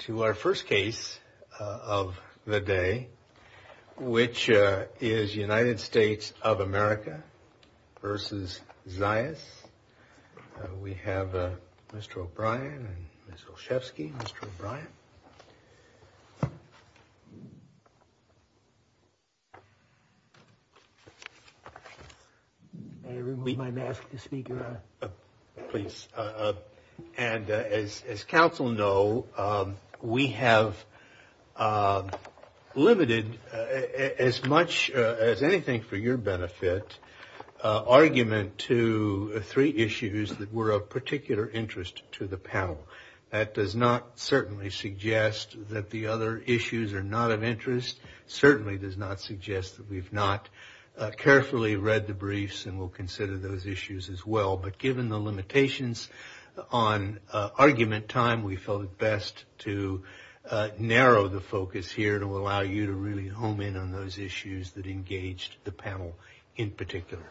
To our first case of the day, which is United States of America v. Zayas, we have Mr. O'Brien, Ms. Olszewski, Mr. O'Brien. May I remove my mask, Mr. Speaker? Please. And as counsel know, we have limited, as much as anything for your benefit, argument to three issues that were of particular interest to the panel. That does not certainly suggest that the other issues are not of interest, certainly does not suggest that we've not carefully read the briefs and will consider those issues as well. But given the limitations on argument time, we felt it best to narrow the focus here to allow you to really home in on those issues that engaged the panel in particular.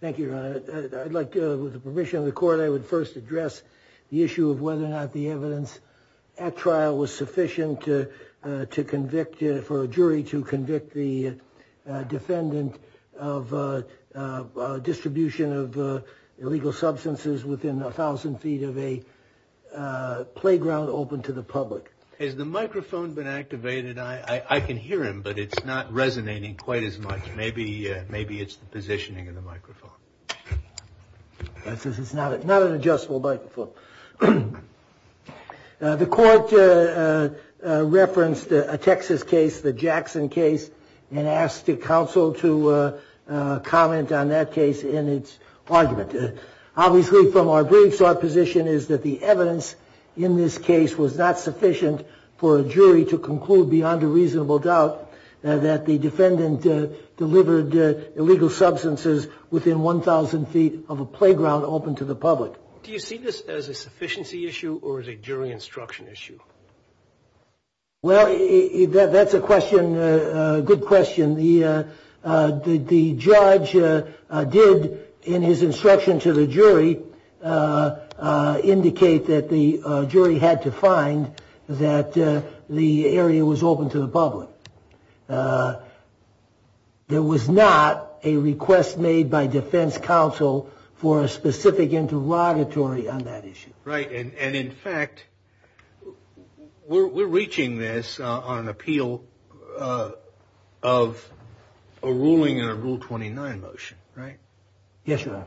Thank you, Your Honor. With the permission of the court, I would first address the issue of whether or not the evidence at trial was sufficient for a jury to convict the defendant of distribution of illegal substances within a thousand feet of a playground open to the public. Has the microphone been activated? I can hear him, but it's not resonating quite as much. Maybe it's the positioning of the microphone. It's not an adjustable microphone. The court referenced a Texas case, the Jackson case, and asked counsel to comment on that case in its argument. Obviously, from our briefs, our position is that the evidence in this case was not sufficient for a jury to conclude beyond a reasonable doubt that the defendant delivered illegal substances within one thousand feet of a playground open to the public. Do you see this as a sufficiency issue or as a jury instruction issue? Well, that's a good question. The judge did, in his instruction to the jury, indicate that the jury had to find that the area was open to the public. There was not a request made by defense counsel for a specific interrogatory on that issue. Right. And in fact, we're reaching this on appeal of a ruling in a Rule 29 motion, right? Yes, Your Honor.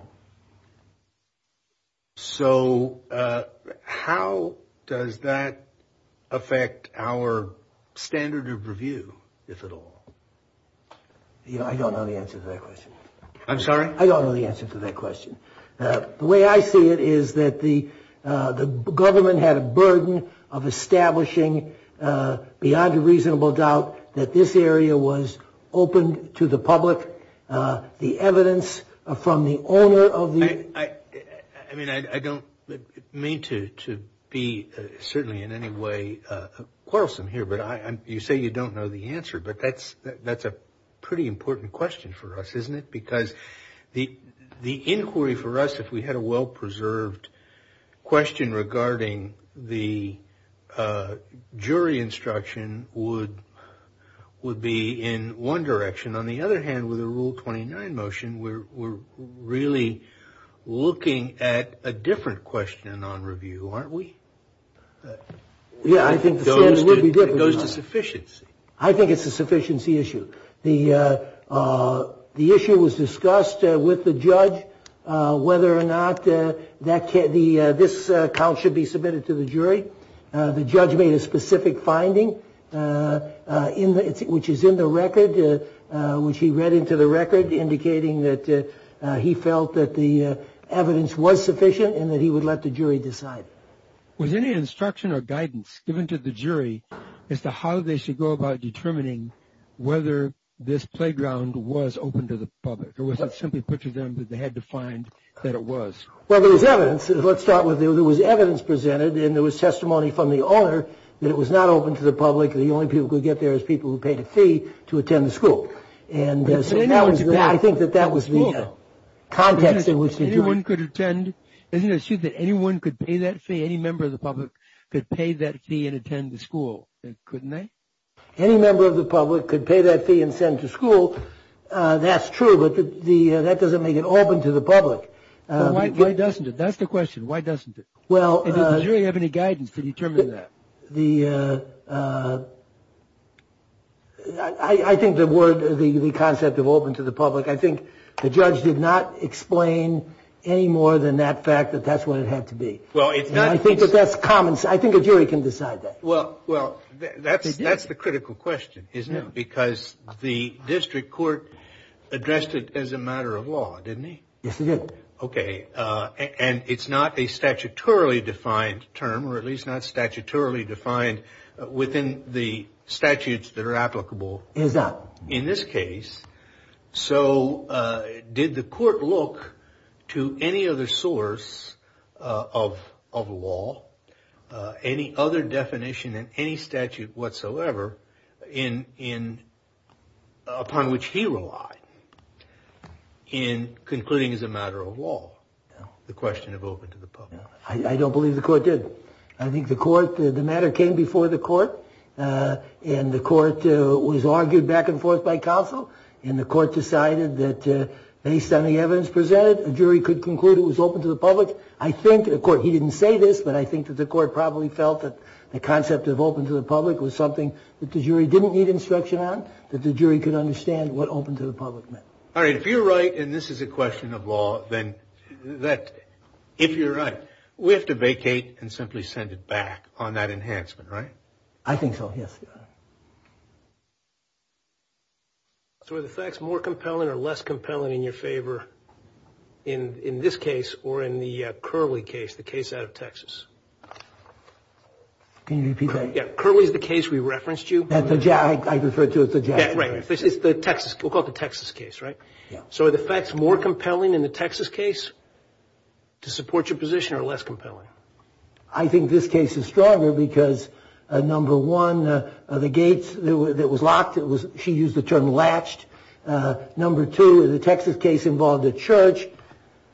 So how does that affect our standard of review, if at all? I don't know the answer to that question. I'm sorry? I don't know the answer to that question. The way I see it is that the government had a burden of establishing beyond a reasonable doubt that this area was open to the public. The evidence from the owner of the... I mean, I don't mean to be certainly in any way quarrelsome here, but you say you don't know the answer, but that's a pretty important question for us, isn't it? Because the inquiry for us, if we had a well-preserved question regarding the jury instruction, would be in one direction. On the other hand, with a Rule 29 motion, we're really looking at a different question on review, aren't we? Yeah, I think the standard would be different. It goes to sufficiency. I think it's a sufficiency issue. The issue was discussed with the judge whether or not this count should be submitted to the jury. The judge made a specific finding, which is in the record, which he read into the record, indicating that he felt that the evidence was sufficient and that he would let the jury decide. Was any instruction or guidance given to the jury as to how they should go about determining whether this playground was open to the public? Or was it simply put to them that they had to find that it was? Well, there was evidence. Let's start with there was evidence presented, and there was testimony from the owner that it was not open to the public. The only people who could get there was people who paid a fee to attend the school. And I think that that was the context in which the jury... Isn't it true that anyone could pay that fee? Any member of the public could pay that fee and attend the school, couldn't they? Any member of the public could pay that fee and send to school. That's true, but that doesn't make it open to the public. Why doesn't it? That's the question. Why doesn't it? Well... Did the jury have any guidance to determine that? I think the word, the concept of open to the public, I think the judge did not explain any more than that fact that that's what it had to be. Well, it's not... I think that's common. I think a jury can decide that. Well, that's the critical question, isn't it? Because the district court addressed it as a matter of law, didn't he? Yes, it did. Okay. And it's not a statutorily defined term, or at least not statutorily defined within the statutes that are applicable... It is not. In this case, so did the court look to any other source of law, any other definition in any statute whatsoever upon which he relied in concluding it's a matter of law? No. The question of open to the public. I don't believe the court did. I think the court, the matter came before the court, and the court was argued back and forth by counsel, and the court decided that based on the evidence presented, a jury could conclude it was open to the public. I think, of course, he didn't say this, but I think that the court probably felt that the concept of open to the public was something that the jury didn't need instruction on, that the jury could understand what open to the public meant. All right. If you're right, and this is a question of law, then that, if you're right, we have to vacate and simply send it back on that enhancement, right? I think so, yes. So are the facts more compelling or less compelling in your favor in this case or in the Curley case, the case out of Texas? Can you repeat that? Yeah. Curley is the case we referenced you. I refer to it as the Jackson case. We'll call it the Texas case, right? So are the facts more compelling in the Texas case to support your position or less compelling? I think this case is stronger because, number one, the gates that was locked, she used the term latched. Number two, the Texas case involved a church.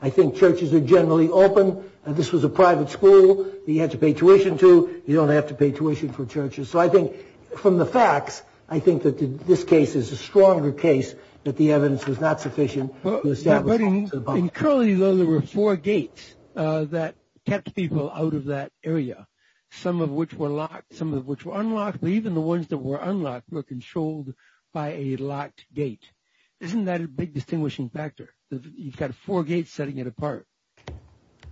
I think churches are generally open. This was a private school that you had to pay tuition to. You don't have to pay tuition for churches. So I think from the facts, I think that this case is a stronger case that the evidence was not sufficient. In Curley, though, there were four gates that kept people out of that area, some of which were locked, some of which were unlocked. But even the ones that were unlocked were controlled by a locked gate. Isn't that a big distinguishing factor? You've got four gates setting it apart.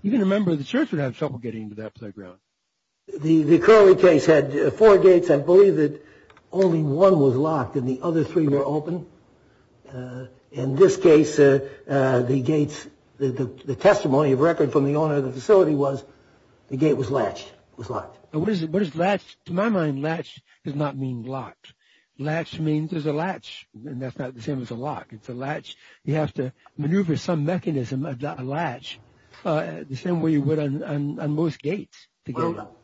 Even a member of the church would have trouble getting into that playground. The Curley case had four gates. I believe that only one was locked and the other three were open. In this case, the gates, the testimony of record from the owner of the facility was the gate was latched, was locked. What is latched? To my mind, latched does not mean locked. Latched means there's a latch, and that's not the same as a lock. It's a latch. You have to maneuver some mechanism, a latch, the same way you would on most gates. Well,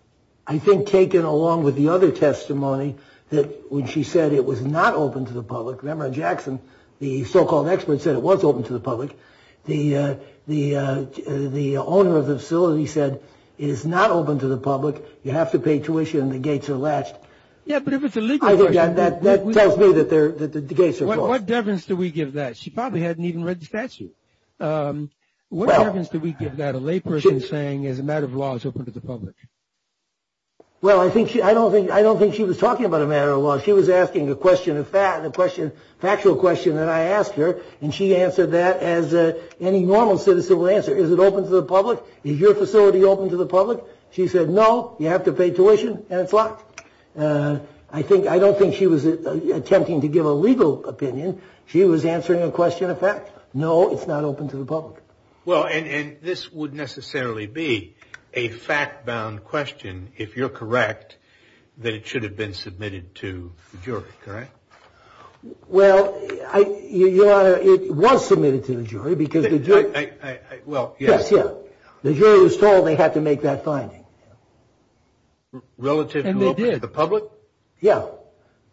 I think taken along with the other testimony that when she said it was not open to the public, remember on Jackson, the so-called expert said it was open to the public. The owner of the facility said it is not open to the public. You have to pay tuition and the gates are latched. Yeah, but if it's a legal question. That tells me that the gates are closed. What deference do we give that? She probably hadn't even read the statute. What deference do we give that a layperson is saying is a matter of law is open to the public? Well, I don't think she was talking about a matter of law. She was asking a question of fact, a factual question that I asked her, and she answered that as any normal citizen would answer. Is it open to the public? Is your facility open to the public? She said, no, you have to pay tuition and it's locked. I don't think she was attempting to give a legal opinion. She was answering a question of fact. No, it's not open to the public. Well, and this would necessarily be a fact-bound question, if you're correct, that it should have been submitted to the jury, correct? Well, Your Honor, it was submitted to the jury because the jury was told they had to make that finding. Relative to open to the public? Yeah.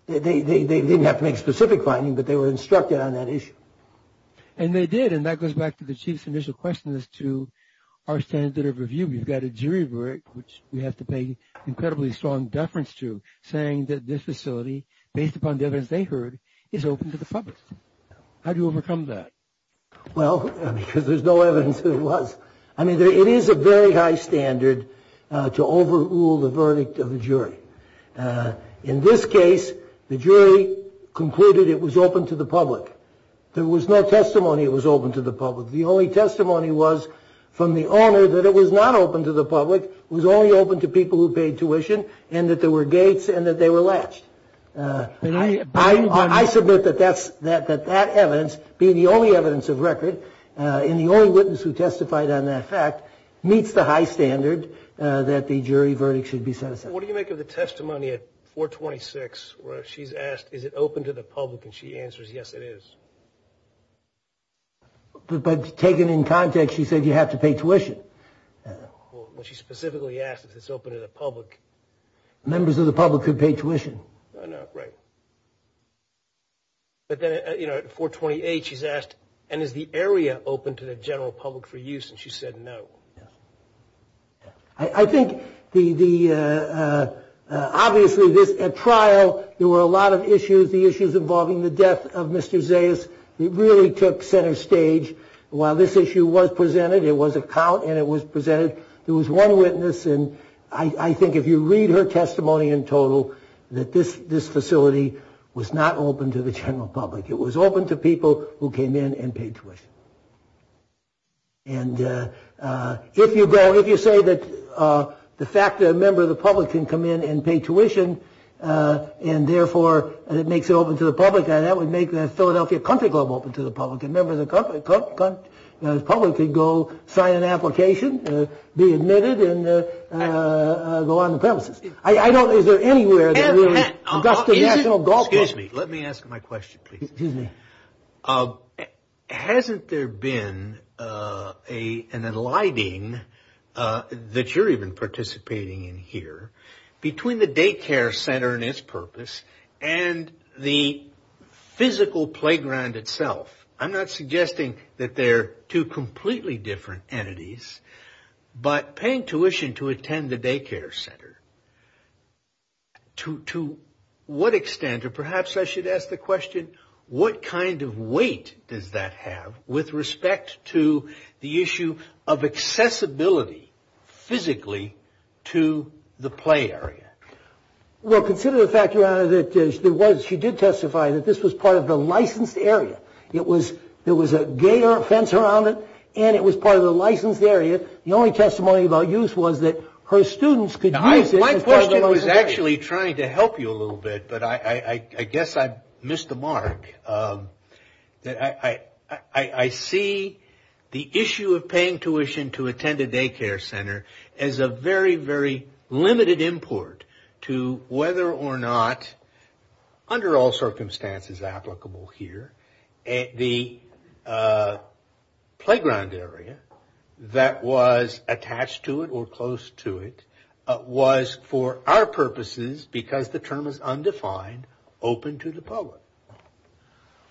They didn't have to make a specific finding, but they were instructed on that issue. And they did, and that goes back to the Chief's initial question as to our standard of review. We've got a jury verdict, which we have to pay incredibly strong deference to, saying that this facility, based upon the evidence they heard, is open to the public. How do you overcome that? Well, because there's no evidence that it was. I mean, it is a very high standard to overrule the verdict of a jury. In this case, the jury concluded it was open to the public. There was no testimony it was open to the public. The only testimony was from the owner that it was not open to the public, it was only open to people who paid tuition, and that there were gates and that they were latched. I submit that that evidence, being the only evidence of record and the only witness who testified on that fact, meets the high standard that the jury verdict should be set aside. What do you make of the testimony at 426 where she's asked, is it open to the public, and she answers, yes, it is? But taken in context, she said you have to pay tuition. Well, she specifically asked if it's open to the public. Members of the public could pay tuition. Right. But then, you know, at 428, she's asked, and is the area open to the general public for use, and she said no. Yes. I think the ‑‑ obviously, at trial, there were a lot of issues. The issues involving the death of Mr. Zayas really took center stage. While this issue was presented, it was a count, and it was presented, there was one witness, and I think if you read her testimony in total, that this facility was not open to the general public. It was open to people who came in and paid tuition. And if you go, if you say that the fact that a member of the public can come in and pay tuition and, therefore, it makes it open to the public, that would make the Philadelphia Country Club open to the public, and members of the public could go sign an application, be admitted, and go on the premises. I don't ‑‑ is there anywhere that we're ‑‑ Excuse me. Let me ask my question, please. Excuse me. Hasn't there been an aligning that you're even participating in here between the daycare center and its purpose and the physical playground itself? I'm not suggesting that they're two completely different entities, but paying tuition to attend the daycare center, to what extent, or perhaps I should ask the question, what kind of weight does that have with respect to the issue of accessibility, physically, to the play area? Well, consider the fact, Your Honor, that there was, she did testify that this was part of the licensed area. It was ‑‑ there was a gator fence around it, and it was part of the licensed area. The only testimony about use was that her students could use it. My question was actually trying to help you a little bit, but I guess I missed the mark. I see the issue of paying tuition to attend a daycare center as a very, very limited import to whether or not, under all circumstances applicable here, the playground area that was attached to it or close to it was, for our purposes, because the term is undefined, open to the public.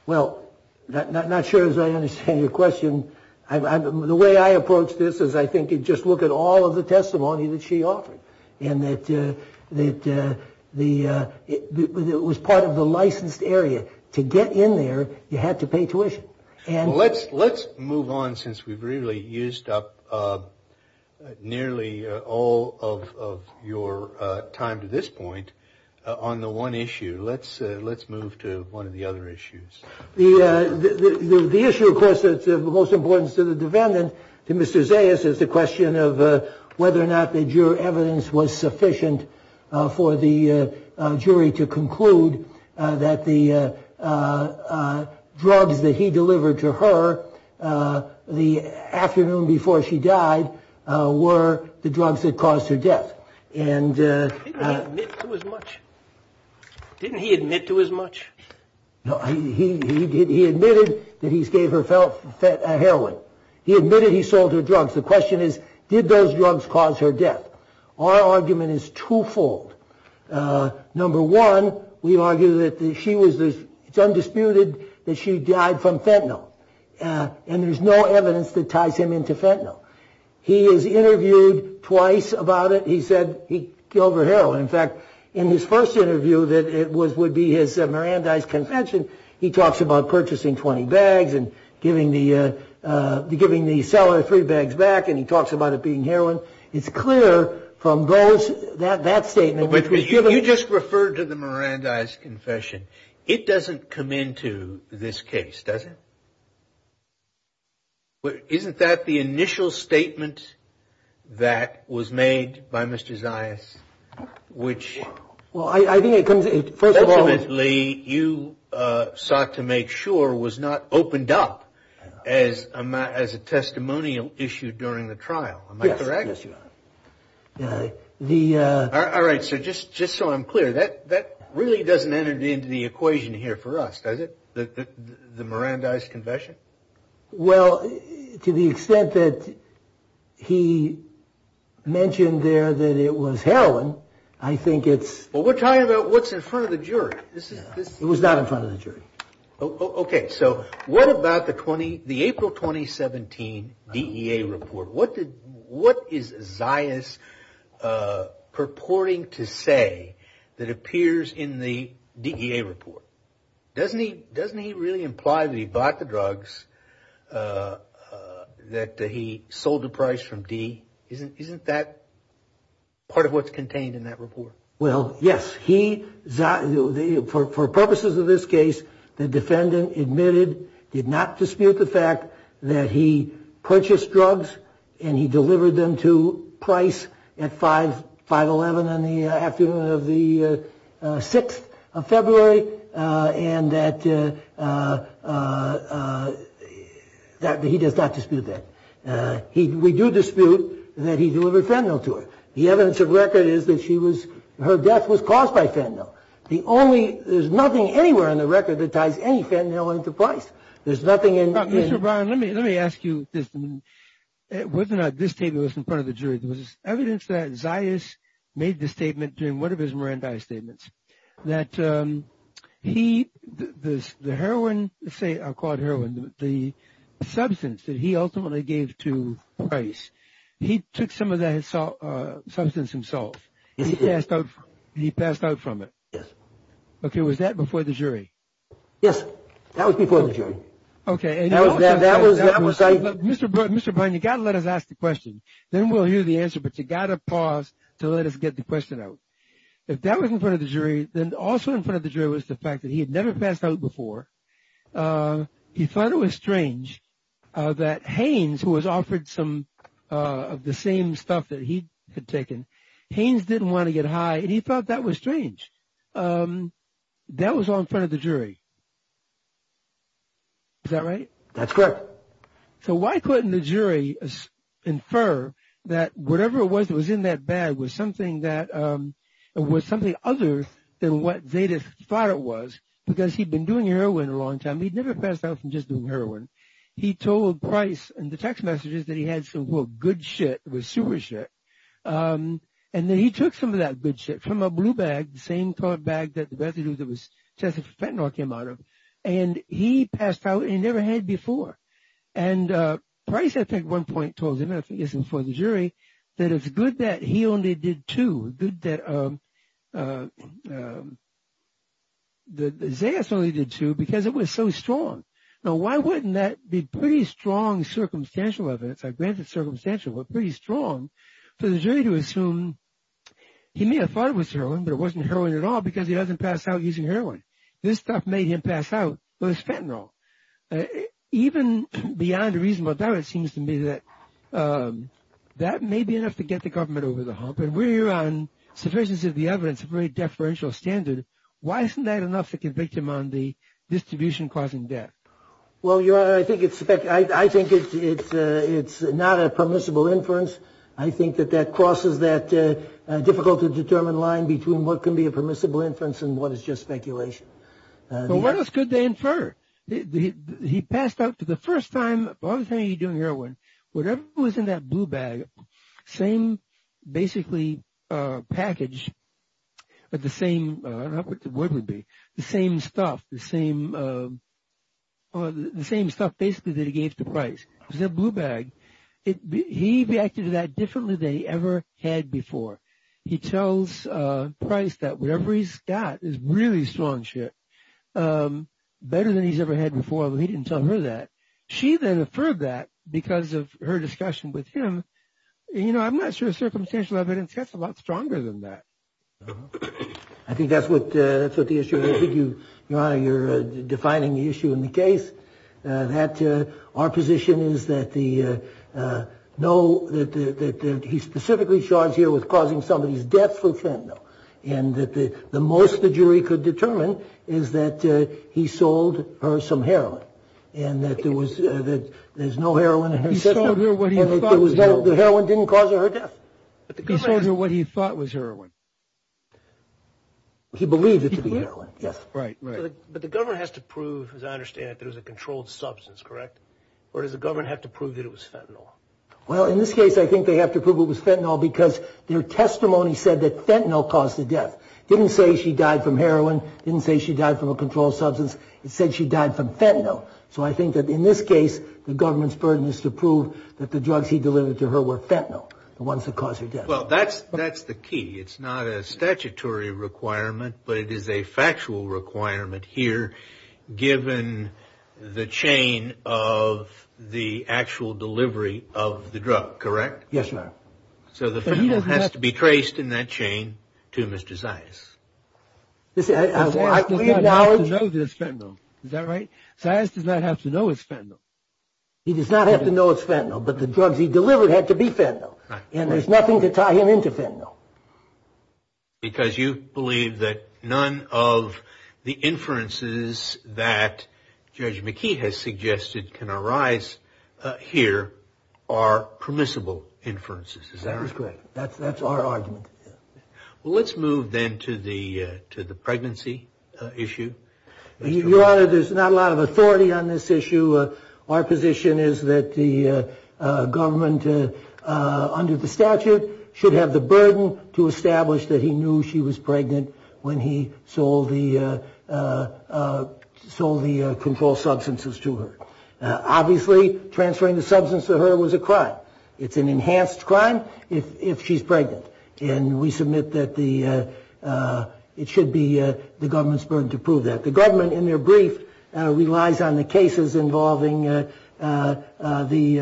Well, not sure as I understand your question. The way I approach this is I think you just look at all of the testimony that she offered and that it was part of the licensed area. To get in there, you had to pay tuition. Let's move on since we've really used up nearly all of your time to this point on the one issue. Let's move to one of the other issues. The issue, of course, that's of the most importance to the defendant, to Mr. Zayas, is the question of whether or not the evidence was sufficient for the jury to conclude that the drugs that he delivered to her the afternoon before she died were the drugs that caused her death. Didn't he admit to as much? He admitted that he gave her heroin. He admitted he sold her drugs. The question is, did those drugs cause her death? Our argument is twofold. Number one, we argue that it's undisputed that she died from fentanyl. And there's no evidence that ties him into fentanyl. He is interviewed twice about it. He said he killed her heroin. In fact, in his first interview that it would be his Mirandais confession, he talks about purchasing 20 bags and giving the seller three bags back. And he talks about it being heroin. It's clear from that statement. You just referred to the Mirandais confession. It doesn't come into this case, does it? Isn't that the initial statement that was made by Mr. Zayas, which you sought to make sure was not opened up as a testimonial issue during the trial, am I correct? Yes, Your Honor. All right, so just so I'm clear, that really doesn't enter into the equation here for us, does it, the Mirandais confession? Well, to the extent that he mentioned there that it was heroin, I think it's Well, we're talking about what's in front of the jury. It was not in front of the jury. Okay, so what about the April 2017 DEA report? What is Zayas purporting to say that appears in the DEA report? Doesn't he really imply that he bought the drugs, that he sold the price from D? Isn't that part of what's contained in that report? Well, yes, for purposes of this case, the defendant admitted, did not dispute the fact that he purchased drugs and he delivered them to Price at 511 on the afternoon of the 6th of February, and that he does not dispute that. We do dispute that he delivered fentanyl to her. The evidence of record is that her death was caused by fentanyl. There's nothing anywhere in the record that ties any fentanyl into Price. Mr. Brown, let me ask you this. It wasn't that this statement was in front of the jury. There was evidence that Zayas made the statement during one of his Mirandai statements that he, the heroin, let's say, I'll call it heroin, the substance that he ultimately gave to Price, he took some of that substance himself. He passed out from it. Yes. Okay, was that before the jury? Yes, that was before the jury. Okay. That was like. Mr. Brown, you've got to let us ask the question. Then we'll hear the answer, but you've got to pause to let us get the question out. If that was in front of the jury, then also in front of the jury was the fact that he had never passed out before. He thought it was strange that Haynes, who was offered some of the same stuff that he had taken, Haynes didn't want to get high, and he thought that was strange. That was all in front of the jury. Is that right? That's correct. So why couldn't the jury infer that whatever it was that was in that bag was something that, was something other than what Zayas thought it was because he'd been doing heroin a long time. He'd never passed out from just doing heroin. He told Price in the text messages that he had some, quote, good shit, it was super shit, and then he took some of that good shit from a blue bag, the same colored bag that the residue that was tested for fentanyl came out of, and he passed out and never had before. And Price, I think, at one point told him, I think it was in front of the jury, that it's good that he only did two, good that Zayas only did two because it was so strong. Now, why wouldn't that be pretty strong circumstantial evidence? Granted, circumstantial, but pretty strong for the jury to assume he may have thought it was heroin, but it wasn't heroin at all because he doesn't pass out using heroin. This stuff made him pass out with his fentanyl. Even beyond a reasonable doubt, it seems to me that that may be enough to get the government over the hump, and we're here on sufficiency of the evidence, a very deferential standard. Why isn't that enough to convict him on the distribution causing death? Well, Your Honor, I think it's not a permissible inference. I think that that crosses that difficult to determine line between what can be a permissible inference and what is just speculation. Well, what else could they infer? He passed out for the first time, all the time he was doing heroin, whatever was in that blue bag, same basically package, but the same, I don't know what the word would be, the same stuff, the same stuff basically that he gave to Price. It was that blue bag. He reacted to that differently than he ever had before. He tells Price that whatever he's got is really strong shit, better than he's ever had before, but he didn't tell her that. She then inferred that because of her discussion with him. You know, I'm not sure circumstantial evidence gets a lot stronger than that. I think that's what the issue is. Your Honor, you're defining the issue in the case that our position is that he's specifically charged here with causing somebody's death for fentanyl, and that the most the jury could determine is that he sold her some heroin and that there's no heroin in her system. He sold her what he thought was heroin. The heroin didn't cause her death. He sold her what he thought was heroin. He believed it to be heroin, yes. Right, right. But the government has to prove, as I understand it, that it was a controlled substance, correct? Or does the government have to prove that it was fentanyl? Well, in this case, I think they have to prove it was fentanyl because their testimony said that fentanyl caused the death. It didn't say she died from heroin. It didn't say she died from a controlled substance. It said she died from fentanyl. So I think that in this case, the government's burden is to prove that the drugs he delivered to her were fentanyl, the ones that caused her death. Well, that's the key. It's not a statutory requirement, but it is a factual requirement here, given the chain of the actual delivery of the drug, correct? Yes, Your Honor. So the fentanyl has to be traced in that chain to Mr. Zias. Zias does not have to know that it's fentanyl. Is that right? Zias does not have to know it's fentanyl. He does not have to know it's fentanyl, but the drugs he delivered had to be fentanyl. And there's nothing to tie him into fentanyl. Because you believe that none of the inferences that Judge McKee has suggested can arise here are permissible inferences. Is that correct? That's correct. That's our argument. Well, let's move then to the pregnancy issue. Your Honor, there's not a lot of authority on this issue. Our position is that the government, under the statute, should have the burden to establish that he knew she was pregnant when he sold the controlled substances to her. Obviously, transferring the substance to her was a crime. It's an enhanced crime if she's pregnant. And we submit that it should be the government's burden to prove that. The government, in their brief, relies on the cases involving a minority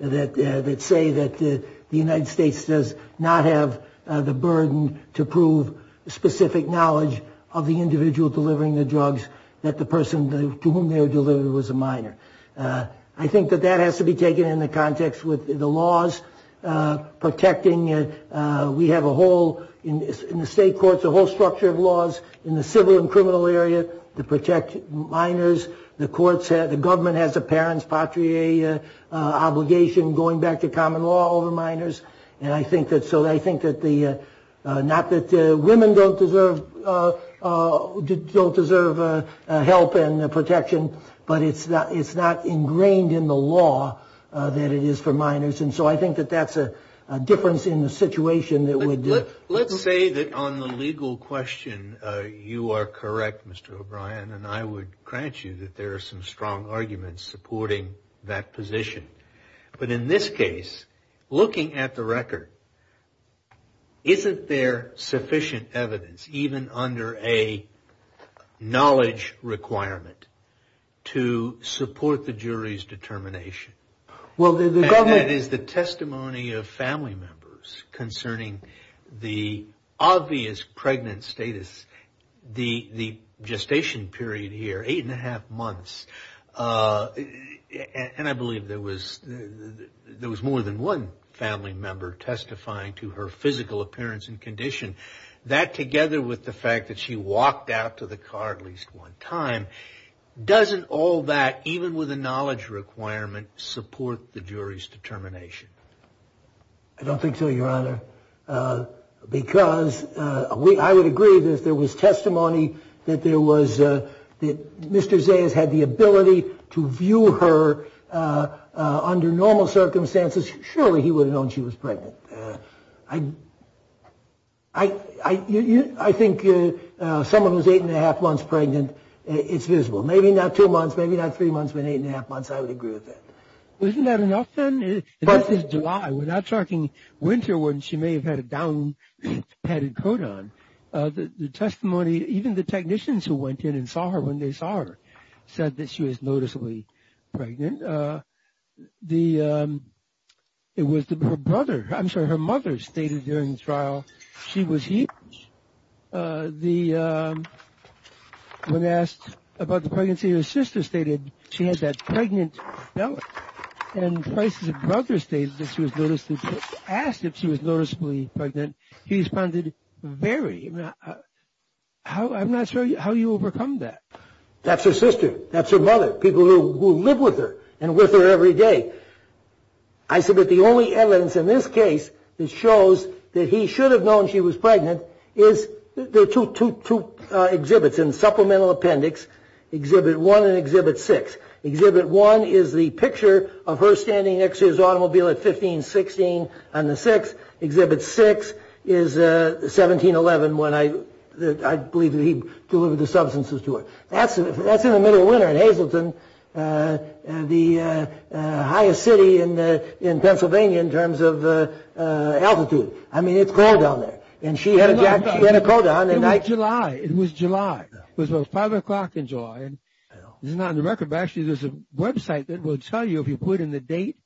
that say that the United States does not have the burden to prove specific knowledge of the individual delivering the drugs that the person to whom they were delivered was a minor. I think that that has to be taken into context with the laws protecting. We have a whole, in the state courts, a whole structure of laws in the civil and criminal area to protect minors. The government has a parent's patrie obligation going back to common law over minors. And so I think that not that women don't deserve help and protection, but it's not ingrained in the law that it is for minors. And so I think that that's a difference in the situation. Let's say that on the legal question, you are correct, Mr. O'Brien, and I would grant you that there are some strong arguments supporting that position. But in this case, looking at the record, isn't there sufficient evidence, even under a knowledge requirement, to support the jury's determination? And that is the testimony of family members concerning the obvious pregnant status, the gestation period here, eight and a half months. And I believe there was more than one family member testifying to her physical appearance and condition. That, together with the fact that she walked out to the car at least one time, doesn't all that, even with a knowledge requirement, support the jury's determination? I don't think so, Your Honor. Because I would agree that if there was testimony that there was, that Mr. Zayas had the ability to view her under normal circumstances, surely he would have known she was pregnant. I think someone who's eight and a half months pregnant, it's visible. Maybe not two months, maybe not three months, but eight and a half months, I would agree with that. Isn't that enough then? This is July. We're not talking winter when she may have had a down padded coat on. The testimony, even the technicians who went in and saw her when they saw her, said that she was noticeably pregnant. It was her brother, I'm sorry, her mother stated during the trial she was here. When asked about the pregnancy, her sister stated she had that pregnant belly. And Price's brother stated that she was noticeably pregnant. He asked if she was noticeably pregnant. He responded, very. I'm not sure how you overcome that. That's her sister. That's her mother. People who live with her and with her every day. I submit the only evidence in this case that shows that he should have known she was pregnant is, there are two exhibits in the supplemental appendix, Exhibit 1 and Exhibit 6. Exhibit 1 is the picture of her standing next to his automobile at 1516 on the 6th. Exhibit 6 is 1711 when I believe he delivered the substances to her. That's in the middle of winter in Hazleton, the highest city in Pennsylvania in terms of altitude. I mean, it's cold down there. She had a coat on. It was July. It was 5 o'clock in July. This is not on the record, but actually there's a website that will tell you if you put in the date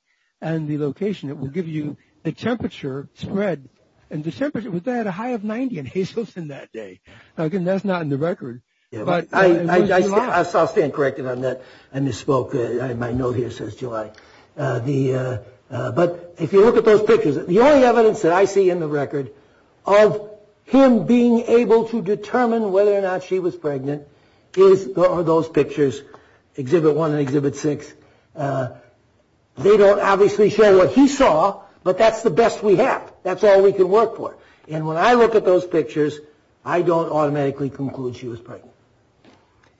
and the location, it will give you the temperature spread. And the temperature was at a high of 90 in Hazleton that day. Again, that's not in the record. I'll stand corrected on that. I misspoke in my note here since July. But if you look at those pictures, the only evidence that I see in the record of him being able to determine whether or not she was pregnant is those pictures, Exhibit 1 and Exhibit 6. They don't obviously show what he saw, but that's the best we have. That's all we can work for. And when I look at those pictures, I don't automatically conclude she was pregnant.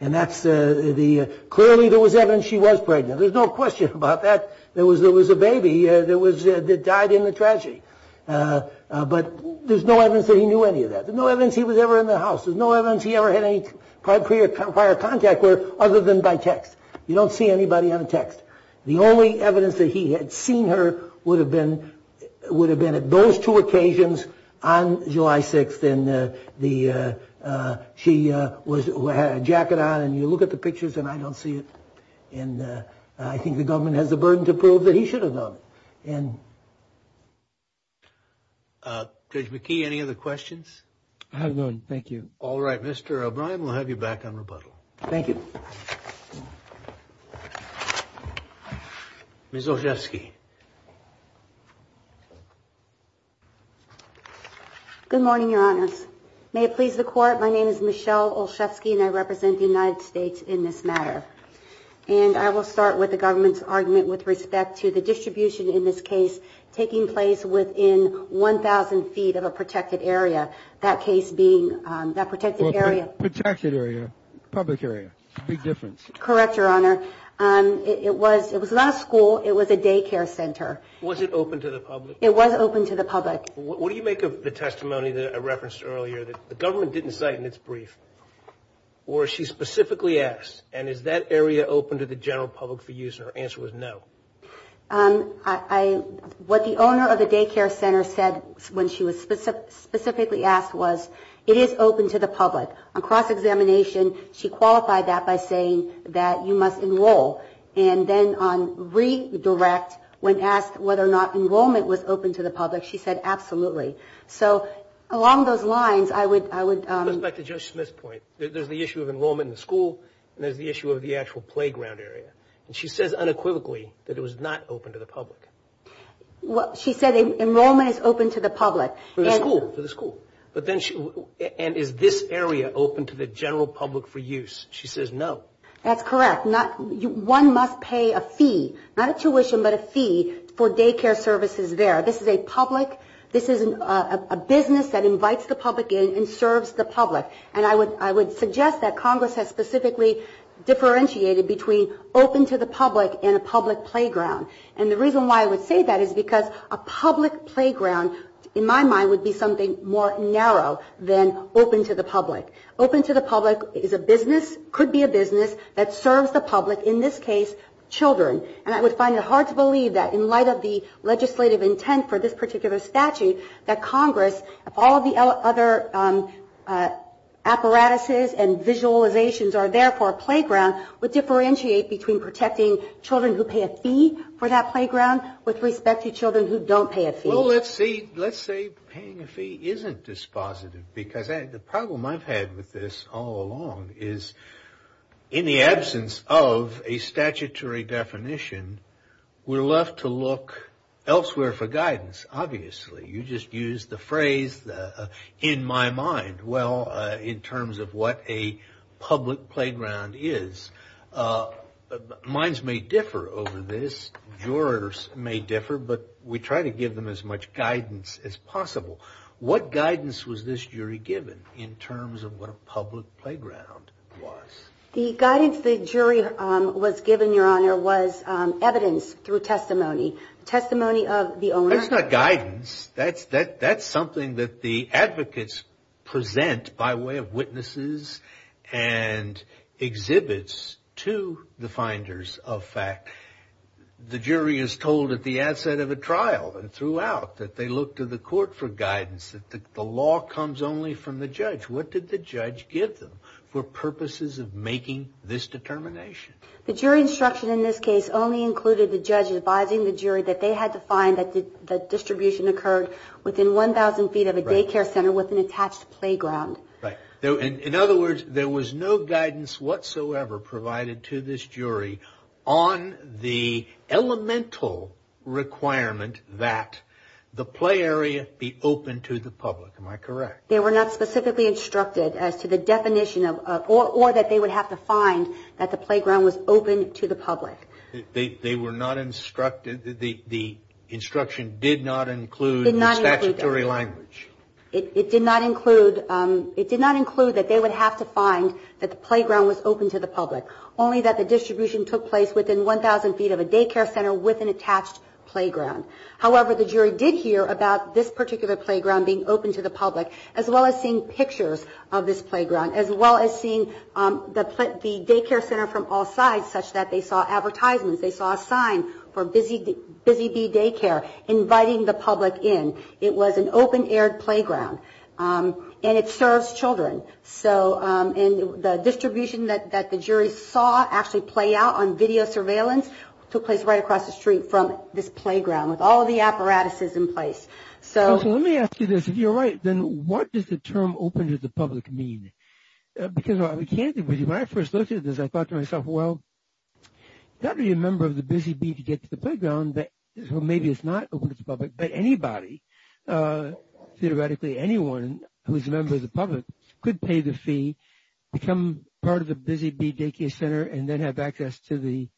And clearly there was evidence she was pregnant. There's no question about that. There was a baby that died in the tragedy. But there's no evidence that he knew any of that. There's no evidence he was ever in the house. There's no evidence he ever had any prior contact with her other than by text. You don't see anybody on a text. The only evidence that he had seen her would have been at those two occasions on July 6th. And she had a jacket on, and you look at the pictures and I don't see it. And I think the government has the burden to prove that he should have done it. And Judge McKee, any other questions? I have none, thank you. All right, Mr. O'Brien, we'll have you back on rebuttal. Thank you. Ms. Olszewski. Good morning, Your Honors. May it please the Court, my name is Michelle Olszewski, and I represent the United States in this matter. And I will start with the government's argument with respect to the distribution in this case taking place within 1,000 feet of a protected area, that case being that protected area. Protected area, public area, big difference. Correct, Your Honor. It was not a school, it was a daycare center. Was it open to the public? It was open to the public. What do you make of the testimony that I referenced earlier that the government didn't cite in its brief? Or she specifically asked, and is that area open to the general public for use? And her answer was no. What the owner of the daycare center said when she was specifically asked was, it is open to the public. On cross-examination, she qualified that by saying that you must enroll. And then on redirect, when asked whether or not enrollment was open to the public, she said absolutely. So along those lines, I would – Let's go back to Judge Smith's point. There's the issue of enrollment in the school, and there's the issue of the actual playground area. And she says unequivocally that it was not open to the public. She said enrollment is open to the public. For the school, for the school. And is this area open to the general public for use? She says no. That's correct. One must pay a fee, not a tuition, but a fee for daycare services there. This is a public – this is a business that invites the public in and serves the public. And I would suggest that Congress has specifically differentiated between open to the public and a public playground. And the reason why I would say that is because a public playground, in my mind, would be something more narrow than open to the public. Open to the public is a business, could be a business, that serves the public, in this case, children. And I would find it hard to believe that in light of the legislative intent for this particular statute, that Congress, if all of the other apparatuses and visualizations are there for a playground, would differentiate between protecting children who pay a fee for that playground with respect to children who don't pay a fee. Well, let's say paying a fee isn't dispositive. Because the problem I've had with this all along is in the absence of a statutory definition, we're left to look elsewhere for guidance, obviously. You just used the phrase, in my mind. Well, in terms of what a public playground is, minds may differ over this, jurors may differ, but we try to give them as much guidance as possible. What guidance was this jury given in terms of what a public playground was? The guidance the jury was given, Your Honor, was evidence through testimony. Testimony of the owner. That's not guidance. That's something that the advocates present by way of witnesses and exhibits to the finders of fact. The jury is told at the outset of a trial and throughout that they look to the court for guidance, that the law comes only from the judge. What did the judge give them for purposes of making this determination? The jury instruction in this case only included the judge advising the jury that they had to find that the distribution occurred within 1,000 feet of a daycare center with an attached playground. In other words, there was no guidance whatsoever provided to this jury on the elemental requirement that the play area be open to the public. Am I correct? They were not specifically instructed as to the definition of, or that they would have to find that the playground was open to the public. They were not instructed, the instruction did not include the statutory language. It did not include that they would have to find that the playground was open to the public, only that the distribution took place within 1,000 feet of a daycare center with an attached playground. However, the jury did hear about this particular playground being open to the public, as well as seeing pictures of this playground, as well as seeing the daycare center from all sides such that they saw advertisements, they saw a sign for Busy Bee Daycare inviting the public in. It was an open-air playground, and it serves children. So the distribution that the jury saw actually play out on video surveillance took place right across the street from this playground with all of the apparatuses in place. So let me ask you this. If you're right, then what does the term open to the public mean? Because when I first looked at this, I thought to myself, well, that would be a member of the Busy Bee to get to the playground, so maybe it's not open to the public, but anybody, theoretically anyone who is a member of the public, could pay the fee, become part of the Busy Bee Daycare Center, and then have access to the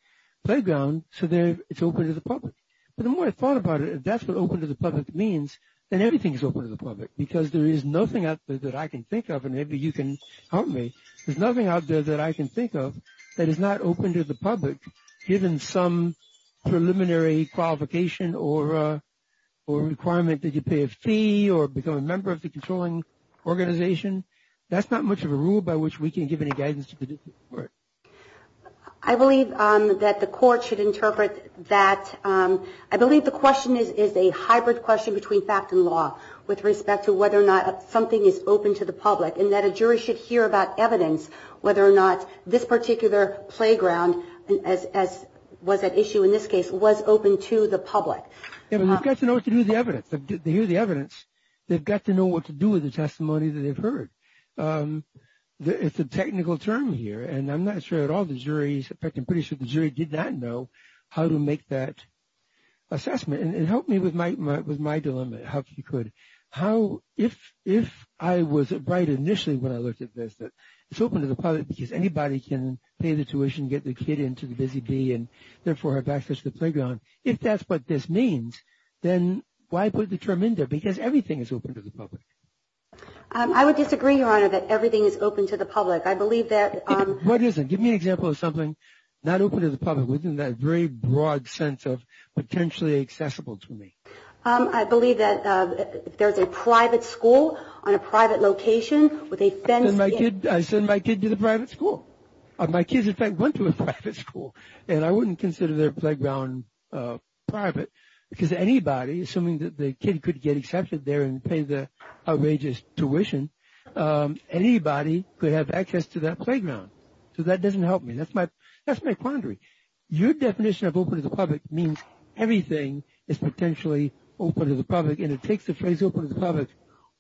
playground so it's open to the public. But the more I thought about it, if that's what open to the public means, then everything is open to the public because there is nothing out there that I can think of, and maybe you can help me, there's nothing out there that I can think of that is not open to the public, given some preliminary qualification or requirement that you pay a fee or become a member of the controlling organization. That's not much of a rule by which we can give any guidance to the court. I believe that the court should interpret that. I believe the question is a hybrid question between fact and law with respect to whether or not something is open to the public and that a jury should hear about evidence, whether or not this particular playground, as was at issue in this case, was open to the public. We've got to know what to do with the evidence. They hear the evidence, they've got to know what to do with the testimony that they've heard. It's a technical term here, and I'm not sure at all the jury, in fact I'm pretty sure the jury did not know how to make that assessment. And help me with my dilemma, if you could. If I was right initially when I looked at this, that it's open to the public because anybody can pay the tuition, get the kid into the Busy Bee, and therefore have access to the playground. If that's what this means, then why put the term in there? Because everything is open to the public. I would disagree, Your Honor, that everything is open to the public. What is it? Give me an example of something not open to the public within that very broad sense of potentially accessible to me. I believe that there's a private school on a private location with a fence. I send my kid to the private school. My kids, in fact, went to a private school. And I wouldn't consider their playground private because anybody, assuming that the kid could get accepted there and pay the outrageous tuition, anybody could have access to that playground. So that doesn't help me. That's my quandary. Your definition of open to the public means everything is potentially open to the public, and it takes the phrase open to the public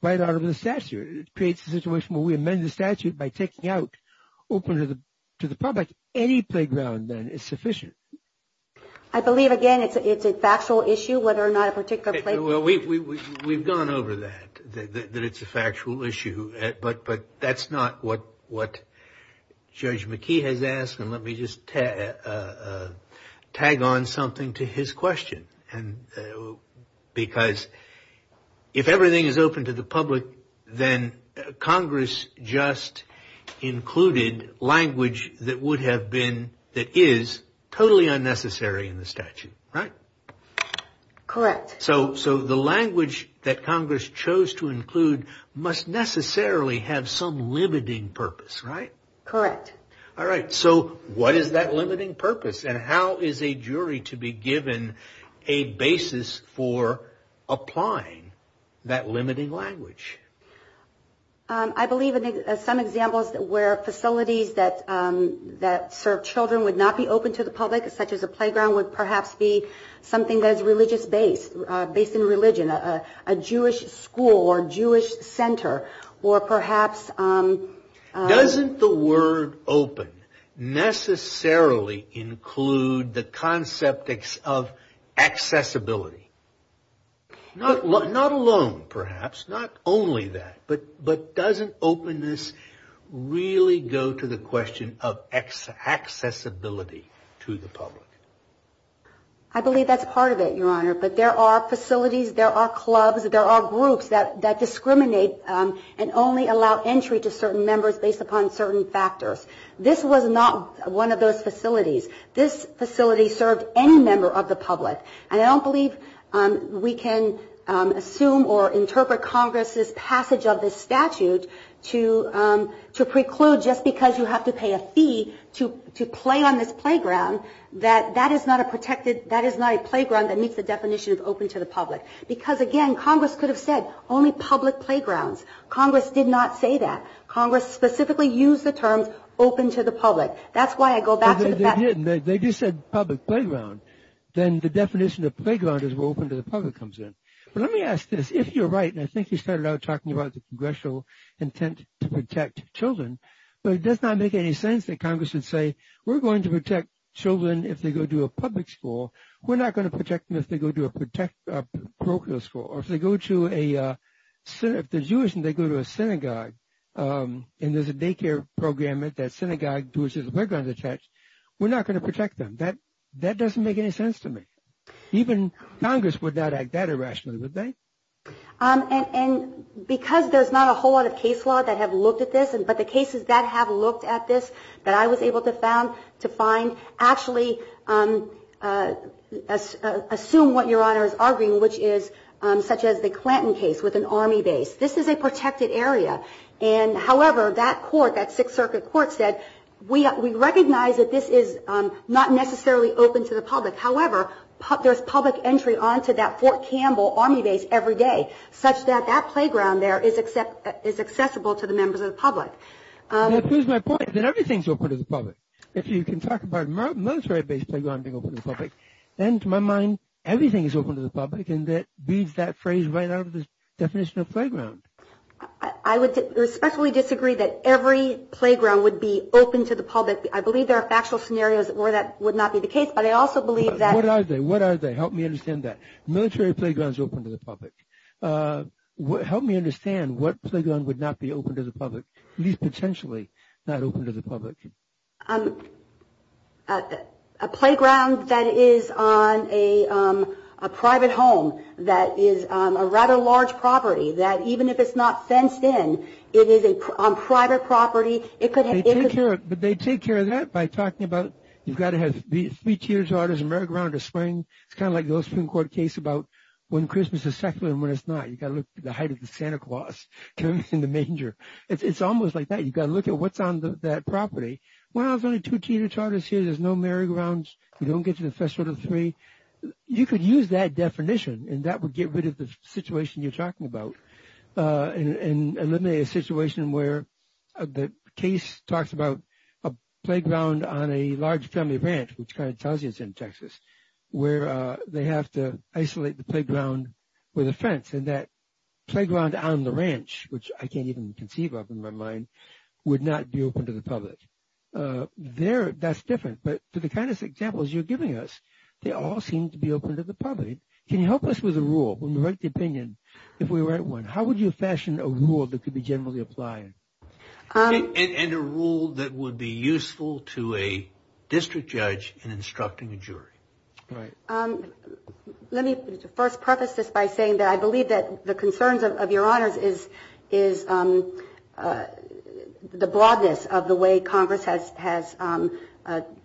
right out of the statute. It creates a situation where we amend the statute by taking out open to the public. Any playground, then, is sufficient. I believe, again, it's a factual issue whether or not a particular playground. We've gone over that, that it's a factual issue. But that's not what Judge McKee has asked. And let me just tag on something to his question because if everything is open to the public, then Congress just included language that would have been, that is, totally unnecessary in the statute, right? Correct. So the language that Congress chose to include must necessarily have some limiting purpose, right? Correct. All right. So what is that limiting purpose? And how is a jury to be given a basis for applying that limiting language? I believe some examples where facilities that serve children would not be open to the public, such as a playground would perhaps be something that is religious based, based in religion, a Jewish school or Jewish center, or perhaps. Doesn't the word open necessarily include the concept of accessibility? Not alone, perhaps, not only that. But doesn't openness really go to the question of accessibility to the public? I believe that's part of it, Your Honor. But there are facilities, there are clubs, there are groups that discriminate and only allow entry to certain members based upon certain factors. This was not one of those facilities. This facility served any member of the public. And I don't believe we can assume or interpret Congress's passage of this statute to preclude, just because you have to pay a fee to play on this playground, that that is not a protected, that is not a playground that meets the definition of open to the public. Because, again, Congress could have said only public playgrounds. Congress did not say that. Congress specifically used the terms open to the public. That's why I go back to the fact. They didn't. They just said public playground. Then the definition of playground is where open to the public comes in. But let me ask this. If you're right, and I think you started out talking about the congressional intent to protect children, but it does not make any sense that Congress would say we're going to protect children if they go to a public school, we're not going to protect them if they go to a parochial school, or if they go to a synagogue, and there's a daycare program at that synagogue to which there's a playground attached, we're not going to protect them. That doesn't make any sense to me. Even Congress would not act that irrationally, would they? And because there's not a whole lot of case law that have looked at this, but the cases that have looked at this that I was able to find actually assume what Your Honor is arguing, which is such as the Clanton case with an Army base. This is a protected area, and, however, that court, that Sixth Circuit court said, we recognize that this is not necessarily open to the public. However, there's public entry onto that Fort Campbell Army base every day, such that that playground there is accessible to the members of the public. Here's my point, that everything's open to the public. If you can talk about military-based playground being open to the public, then to my mind, everything is open to the public, and that beats that phrase right out of the definition of playground. I would respectfully disagree that every playground would be open to the public. I believe there are factual scenarios where that would not be the case, but I also believe that – What are they? What are they? Help me understand that. Military playground is open to the public. Help me understand what playground would not be open to the public, at least potentially not open to the public. A playground that is on a private home, that is a rather large property, that even if it's not fenced in, it is a private property. It could have – They take care of that by talking about you've got to have three tiers of water, a merry-go-round in the spring. It's kind of like the old Supreme Court case about when Christmas is secular and when it's not. You've got to look at the height of the Santa Claus in the manger. It's almost like that. You've got to look at what's on that property. Well, there's only two Tina Tartars here. There's no merry-go-rounds. You don't get to the Festival of the Three. You could use that definition, and that would get rid of the situation you're talking about and eliminate a situation where the case talks about a playground on a large family ranch, which kind of tells you it's in Texas, where they have to isolate the playground with a fence. And that playground on the ranch, which I can't even conceive of in my mind, would not be open to the public. That's different, but to the kind of examples you're giving us, they all seem to be open to the public. Can you help us with a rule? When we write the opinion, if we write one, how would you fashion a rule that could be generally applied? And a rule that would be useful to a district judge in instructing a jury. Right. Let me first preface this by saying that I believe that the concerns of Your Honors is the broadness of the way Congress has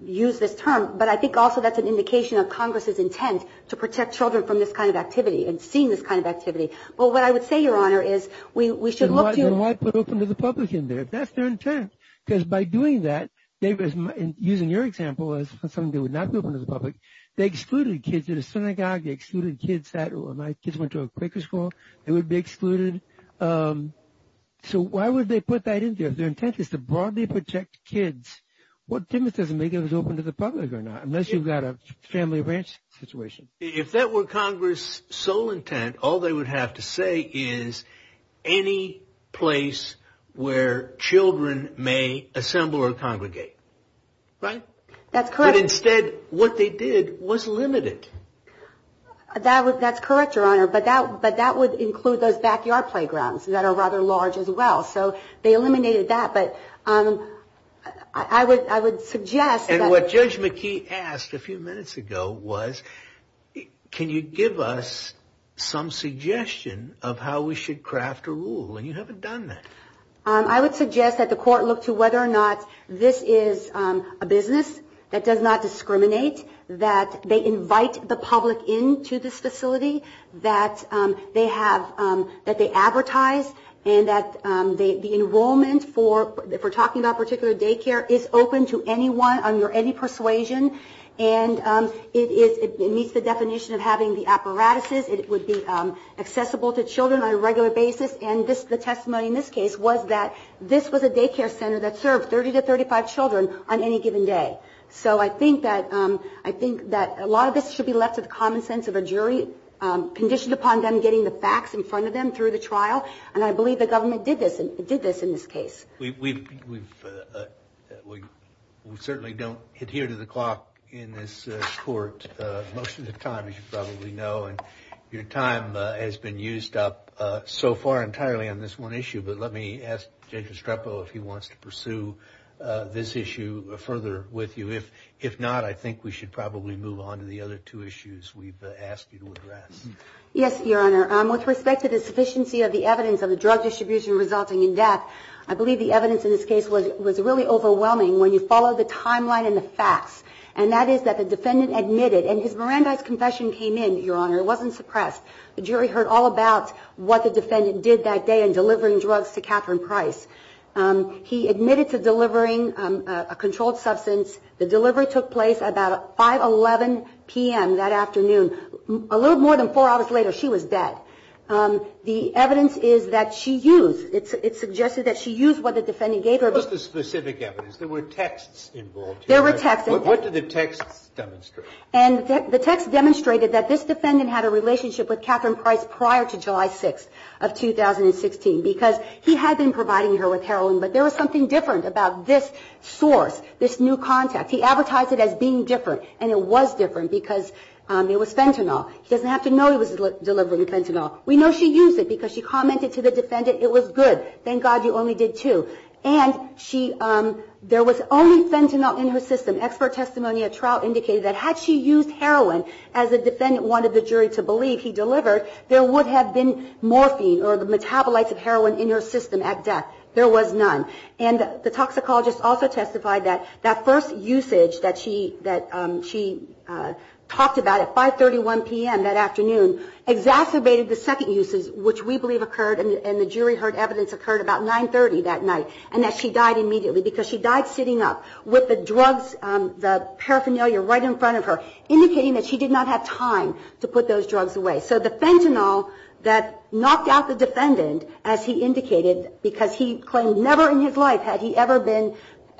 used this term, but I think also that's an indication of Congress's intent to protect children from this kind of activity and seeing this kind of activity. But what I would say, Your Honor, is we should look to you. Then why put open to the public in there if that's their intent? Because by doing that, using your example as something that would not be open to the public, they excluded kids in a synagogue. They excluded kids that went to a Quaker school. They would be excluded. So why would they put that in there if their intent is to broadly protect kids? What difference does it make if it's open to the public or not, unless you've got a family ranch situation? If that were Congress's sole intent, all they would have to say is, any place where children may assemble or congregate. Right? That's correct. But instead what they did was limited. That's correct, Your Honor, but that would include those backyard playgrounds that are rather large as well. So they eliminated that, but I would suggest that. And what Judge McKee asked a few minutes ago was, can you give us some suggestion of how we should craft a rule? And you haven't done that. I would suggest that the court look to whether or not this is a business that does not discriminate, that they invite the public into this facility, that they advertise, and that the enrollment, if we're talking about particular daycare, is open to anyone under any persuasion. And it meets the definition of having the apparatuses. It would be accessible to children on a regular basis. And the testimony in this case was that this was a daycare center that served 30 to 35 children on any given day. So I think that a lot of this should be left to the common sense of a jury, conditioned upon them getting the facts in front of them through the trial. And I believe the government did this in this case. We certainly don't adhere to the clock in this court most of the time, as you probably know. And your time has been used up so far entirely on this one issue. But let me ask Judge Estrepo if he wants to pursue this issue further with you. If not, I think we should probably move on to the other two issues we've asked you to address. Yes, Your Honor. With respect to the sufficiency of the evidence of the drug distribution resulting in death, I believe the evidence in this case was really overwhelming when you follow the timeline and the facts. And that is that the defendant admitted, and his Miranda's confession came in, Your Honor. It wasn't suppressed. The jury heard all about what the defendant did that day in delivering drugs to Catherine Price. He admitted to delivering a controlled substance. The delivery took place at about 5.11 p.m. that afternoon. A little more than four hours later, she was dead. The evidence is that she used, it suggested that she used what the defendant gave her. What was the specific evidence? There were texts involved. There were texts. What did the texts demonstrate? And the texts demonstrated that this defendant had a relationship with Catherine Price prior to July 6th of 2016 because he had been providing her with heroin, but there was something different about this source, this new contact. He advertised it as being different, and it was different because it was fentanyl. He doesn't have to know he was delivering fentanyl. We know she used it because she commented to the defendant it was good. Thank God you only did two. And there was only fentanyl in her system. Expert testimony at trial indicated that had she used heroin, as the defendant wanted the jury to believe he delivered, there would have been morphine or the metabolites of heroin in her system at death. There was none. And the toxicologist also testified that that first usage that she talked about at 5.31 p.m. that afternoon exacerbated the second usage, which we believe occurred, and the jury heard evidence occurred about 9.30 that night, and that she died immediately because she died sitting up with the drugs, the paraphernalia right in front of her, indicating that she did not have time to put those drugs away. So the fentanyl that knocked out the defendant, as he indicated, because he claimed never in his life had he ever been,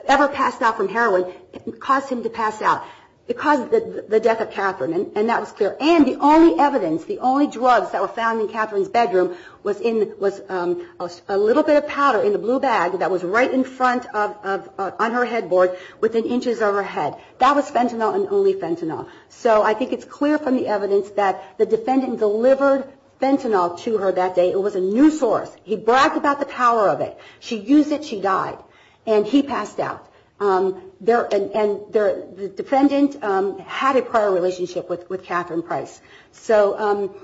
ever passed out from heroin, caused him to pass out. It caused the death of Catherine, and that was clear. And the only evidence, the only drugs that were found in Catherine's bedroom was in, was a little bit of powder in the blue bag that was right in front of, on her headboard within inches of her head. That was fentanyl and only fentanyl. So I think it's clear from the evidence that the defendant delivered fentanyl to her that day. It was a new source. He bragged about the power of it. She used it. She died. And he passed out. And the defendant had a prior relationship with Catherine Price. So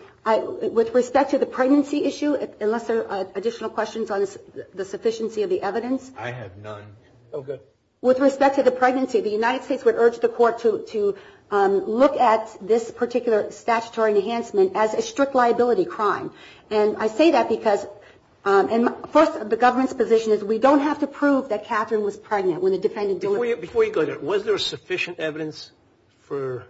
with respect to the pregnancy issue, unless there are additional questions on the sufficiency of the evidence. I have none. Oh, good. With respect to the pregnancy, the United States would urge the court to look at this particular statutory enhancement as a strict liability crime. And I say that because, first, the government's position is we don't have to prove that Catherine was pregnant when the defendant delivered. Before you go there, was there sufficient evidence for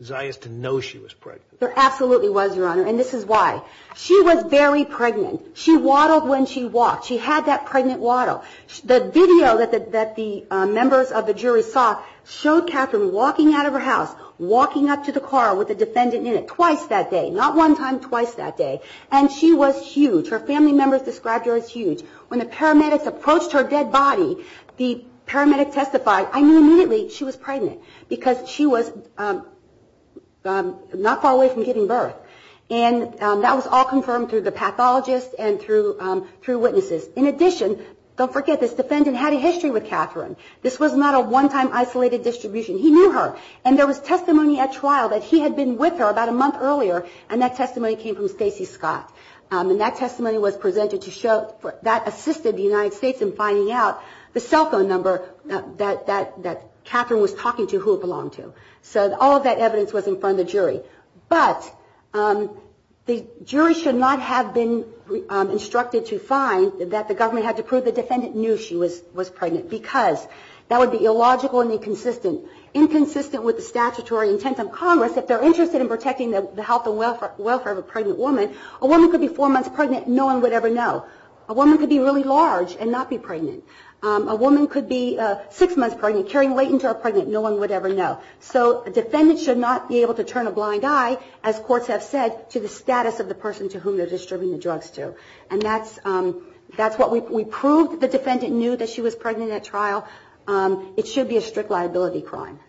Zias to know she was pregnant? There absolutely was, Your Honor, and this is why. She was very pregnant. She waddled when she walked. She had that pregnant waddle. The video that the members of the jury saw showed Catherine walking out of her house, walking up to the car with the defendant in it twice that day, not one time, twice that day. And she was huge. Her family members described her as huge. When the paramedics approached her dead body, the paramedic testified. I knew immediately she was pregnant because she was not far away from giving birth. And that was all confirmed through the pathologist and through witnesses. In addition, don't forget this, the defendant had a history with Catherine. This was not a one-time isolated distribution. He knew her. And there was testimony at trial that he had been with her about a month earlier, and that testimony came from Stacey Scott. And that testimony was presented to show that assisted the United States in finding out the cell phone number that Catherine was talking to who it belonged to. So all of that evidence was in front of the jury. But the jury should not have been instructed to find that the government had to prove the defendant knew she was pregnant because that would be illogical and inconsistent. Inconsistent with the statutory intent of Congress, if they're interested in protecting the health and welfare of a pregnant woman, a woman could be four months pregnant and no one would ever know. A woman could be really large and not be pregnant. A woman could be six months pregnant, carrying late into her pregnancy, and no one would ever know. So a defendant should not be able to turn a blind eye, as courts have said, to the status of the person to whom they're distributing the drugs to. And that's what we proved. The defendant knew that she was pregnant at trial. It should be a strict liability crime.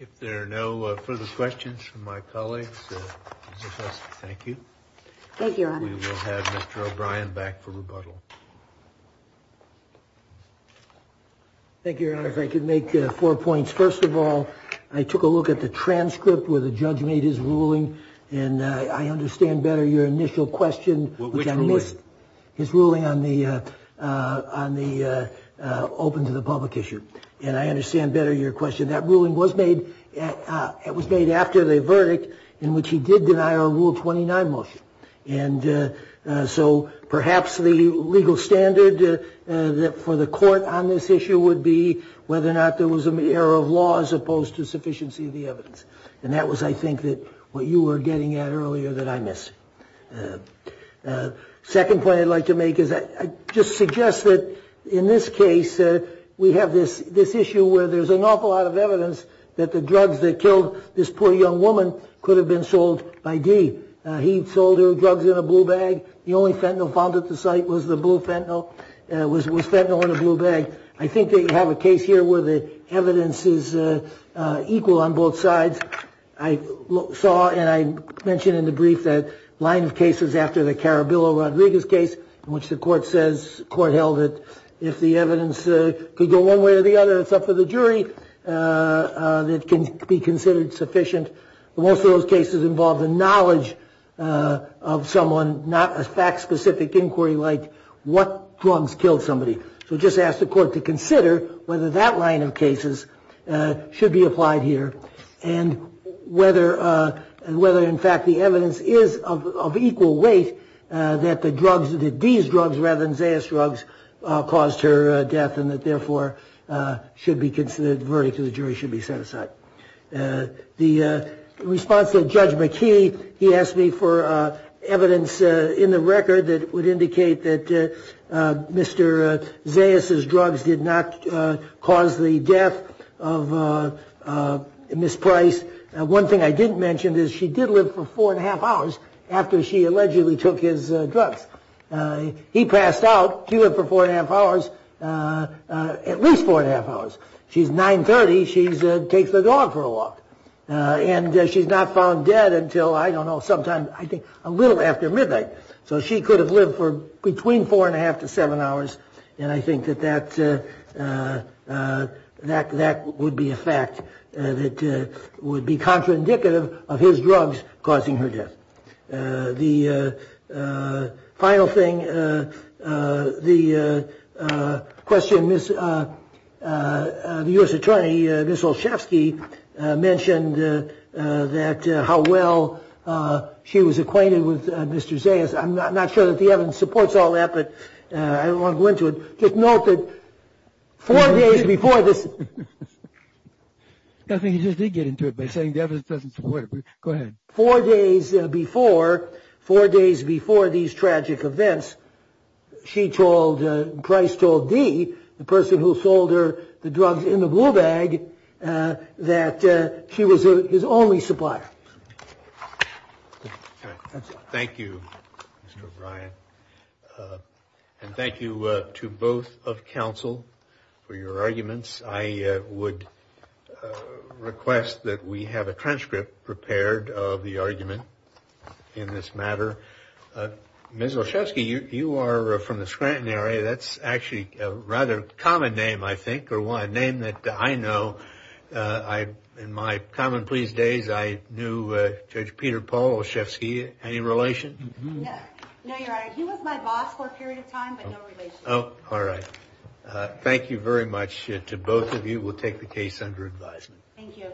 If there are no further questions from my colleagues, thank you. Thank you, Your Honor. We will have Mr. O'Brien back for rebuttal. Thank you, Your Honor. If I could make four points. First of all, I took a look at the transcript where the judge made his ruling, and I understand better your initial question. Which ruling? His ruling on the open to the public issue. And I understand better your question. That ruling was made after the verdict in which he did deny our Rule 29 motion. And so perhaps the legal standard for the court on this issue would be whether or not there was an error of law as opposed to sufficiency of the evidence. And that was, I think, what you were getting at earlier that I missed. Second point I'd like to make is I just suggest that in this case we have this issue where there's an awful lot of evidence that the drugs that killed this poor young woman could have been sold by D. He sold her drugs in a blue bag. The only fentanyl found at the site was fentanyl in a blue bag. I think that you have a case here where the evidence is equal on both sides. I saw, and I mentioned in the brief, that line of cases after the Carabillo-Rodriguez case in which the court held that if the evidence could go one way or the other, it's up to the jury. It can be considered sufficient. Most of those cases involve the knowledge of someone, not a fact-specific inquiry like what drugs killed somebody. So just ask the court to consider whether that line of cases should be applied here and whether, in fact, the evidence is of equal weight that the drugs, that D's drugs rather than Zayas' drugs caused her death and that, therefore, the verdict to the jury should be set aside. In response to Judge McKee, he asked me for evidence in the record that would indicate that Mr. Zayas' drugs did not cause the death of Ms. Price. One thing I didn't mention is she did live for 4 1⁄2 hours after she allegedly took his drugs. He passed out. She lived for 4 1⁄2 hours, at least 4 1⁄2 hours. She's 930. She takes the dog for a walk. And she's not found dead until, I don't know, sometime, I think, a little after midnight. So she could have lived for between 4 1⁄2 to 7 hours, and I think that that would be a fact that would be contraindicative of his drugs causing her death. The final thing, the question, the U.S. attorney, Ms. Olszewski, mentioned that how well she was acquainted with Mr. Zayas. I'm not sure that the evidence supports all that, but I don't want to go into it. Just note that four days before this. I think you just did get into it by saying the evidence doesn't support it. Go ahead. Four days before, four days before these tragic events, she told, and Price told Dee, the person who sold her the drugs in the blue bag, that she was his only supplier. Thank you, Mr. O'Brien. And thank you to both of counsel for your arguments. I would request that we have a transcript prepared of the argument in this matter. Ms. Olszewski, you are from the Scranton area. That's actually a rather common name, I think, or one name that I know. In my common pleas days, I knew Judge Peter Paul Olszewski. Any relation? No, Your Honor. He was my boss for a period of time, but no relation. Oh, all right. Thank you very much to both of you. We'll take the case under advisement. Thank you.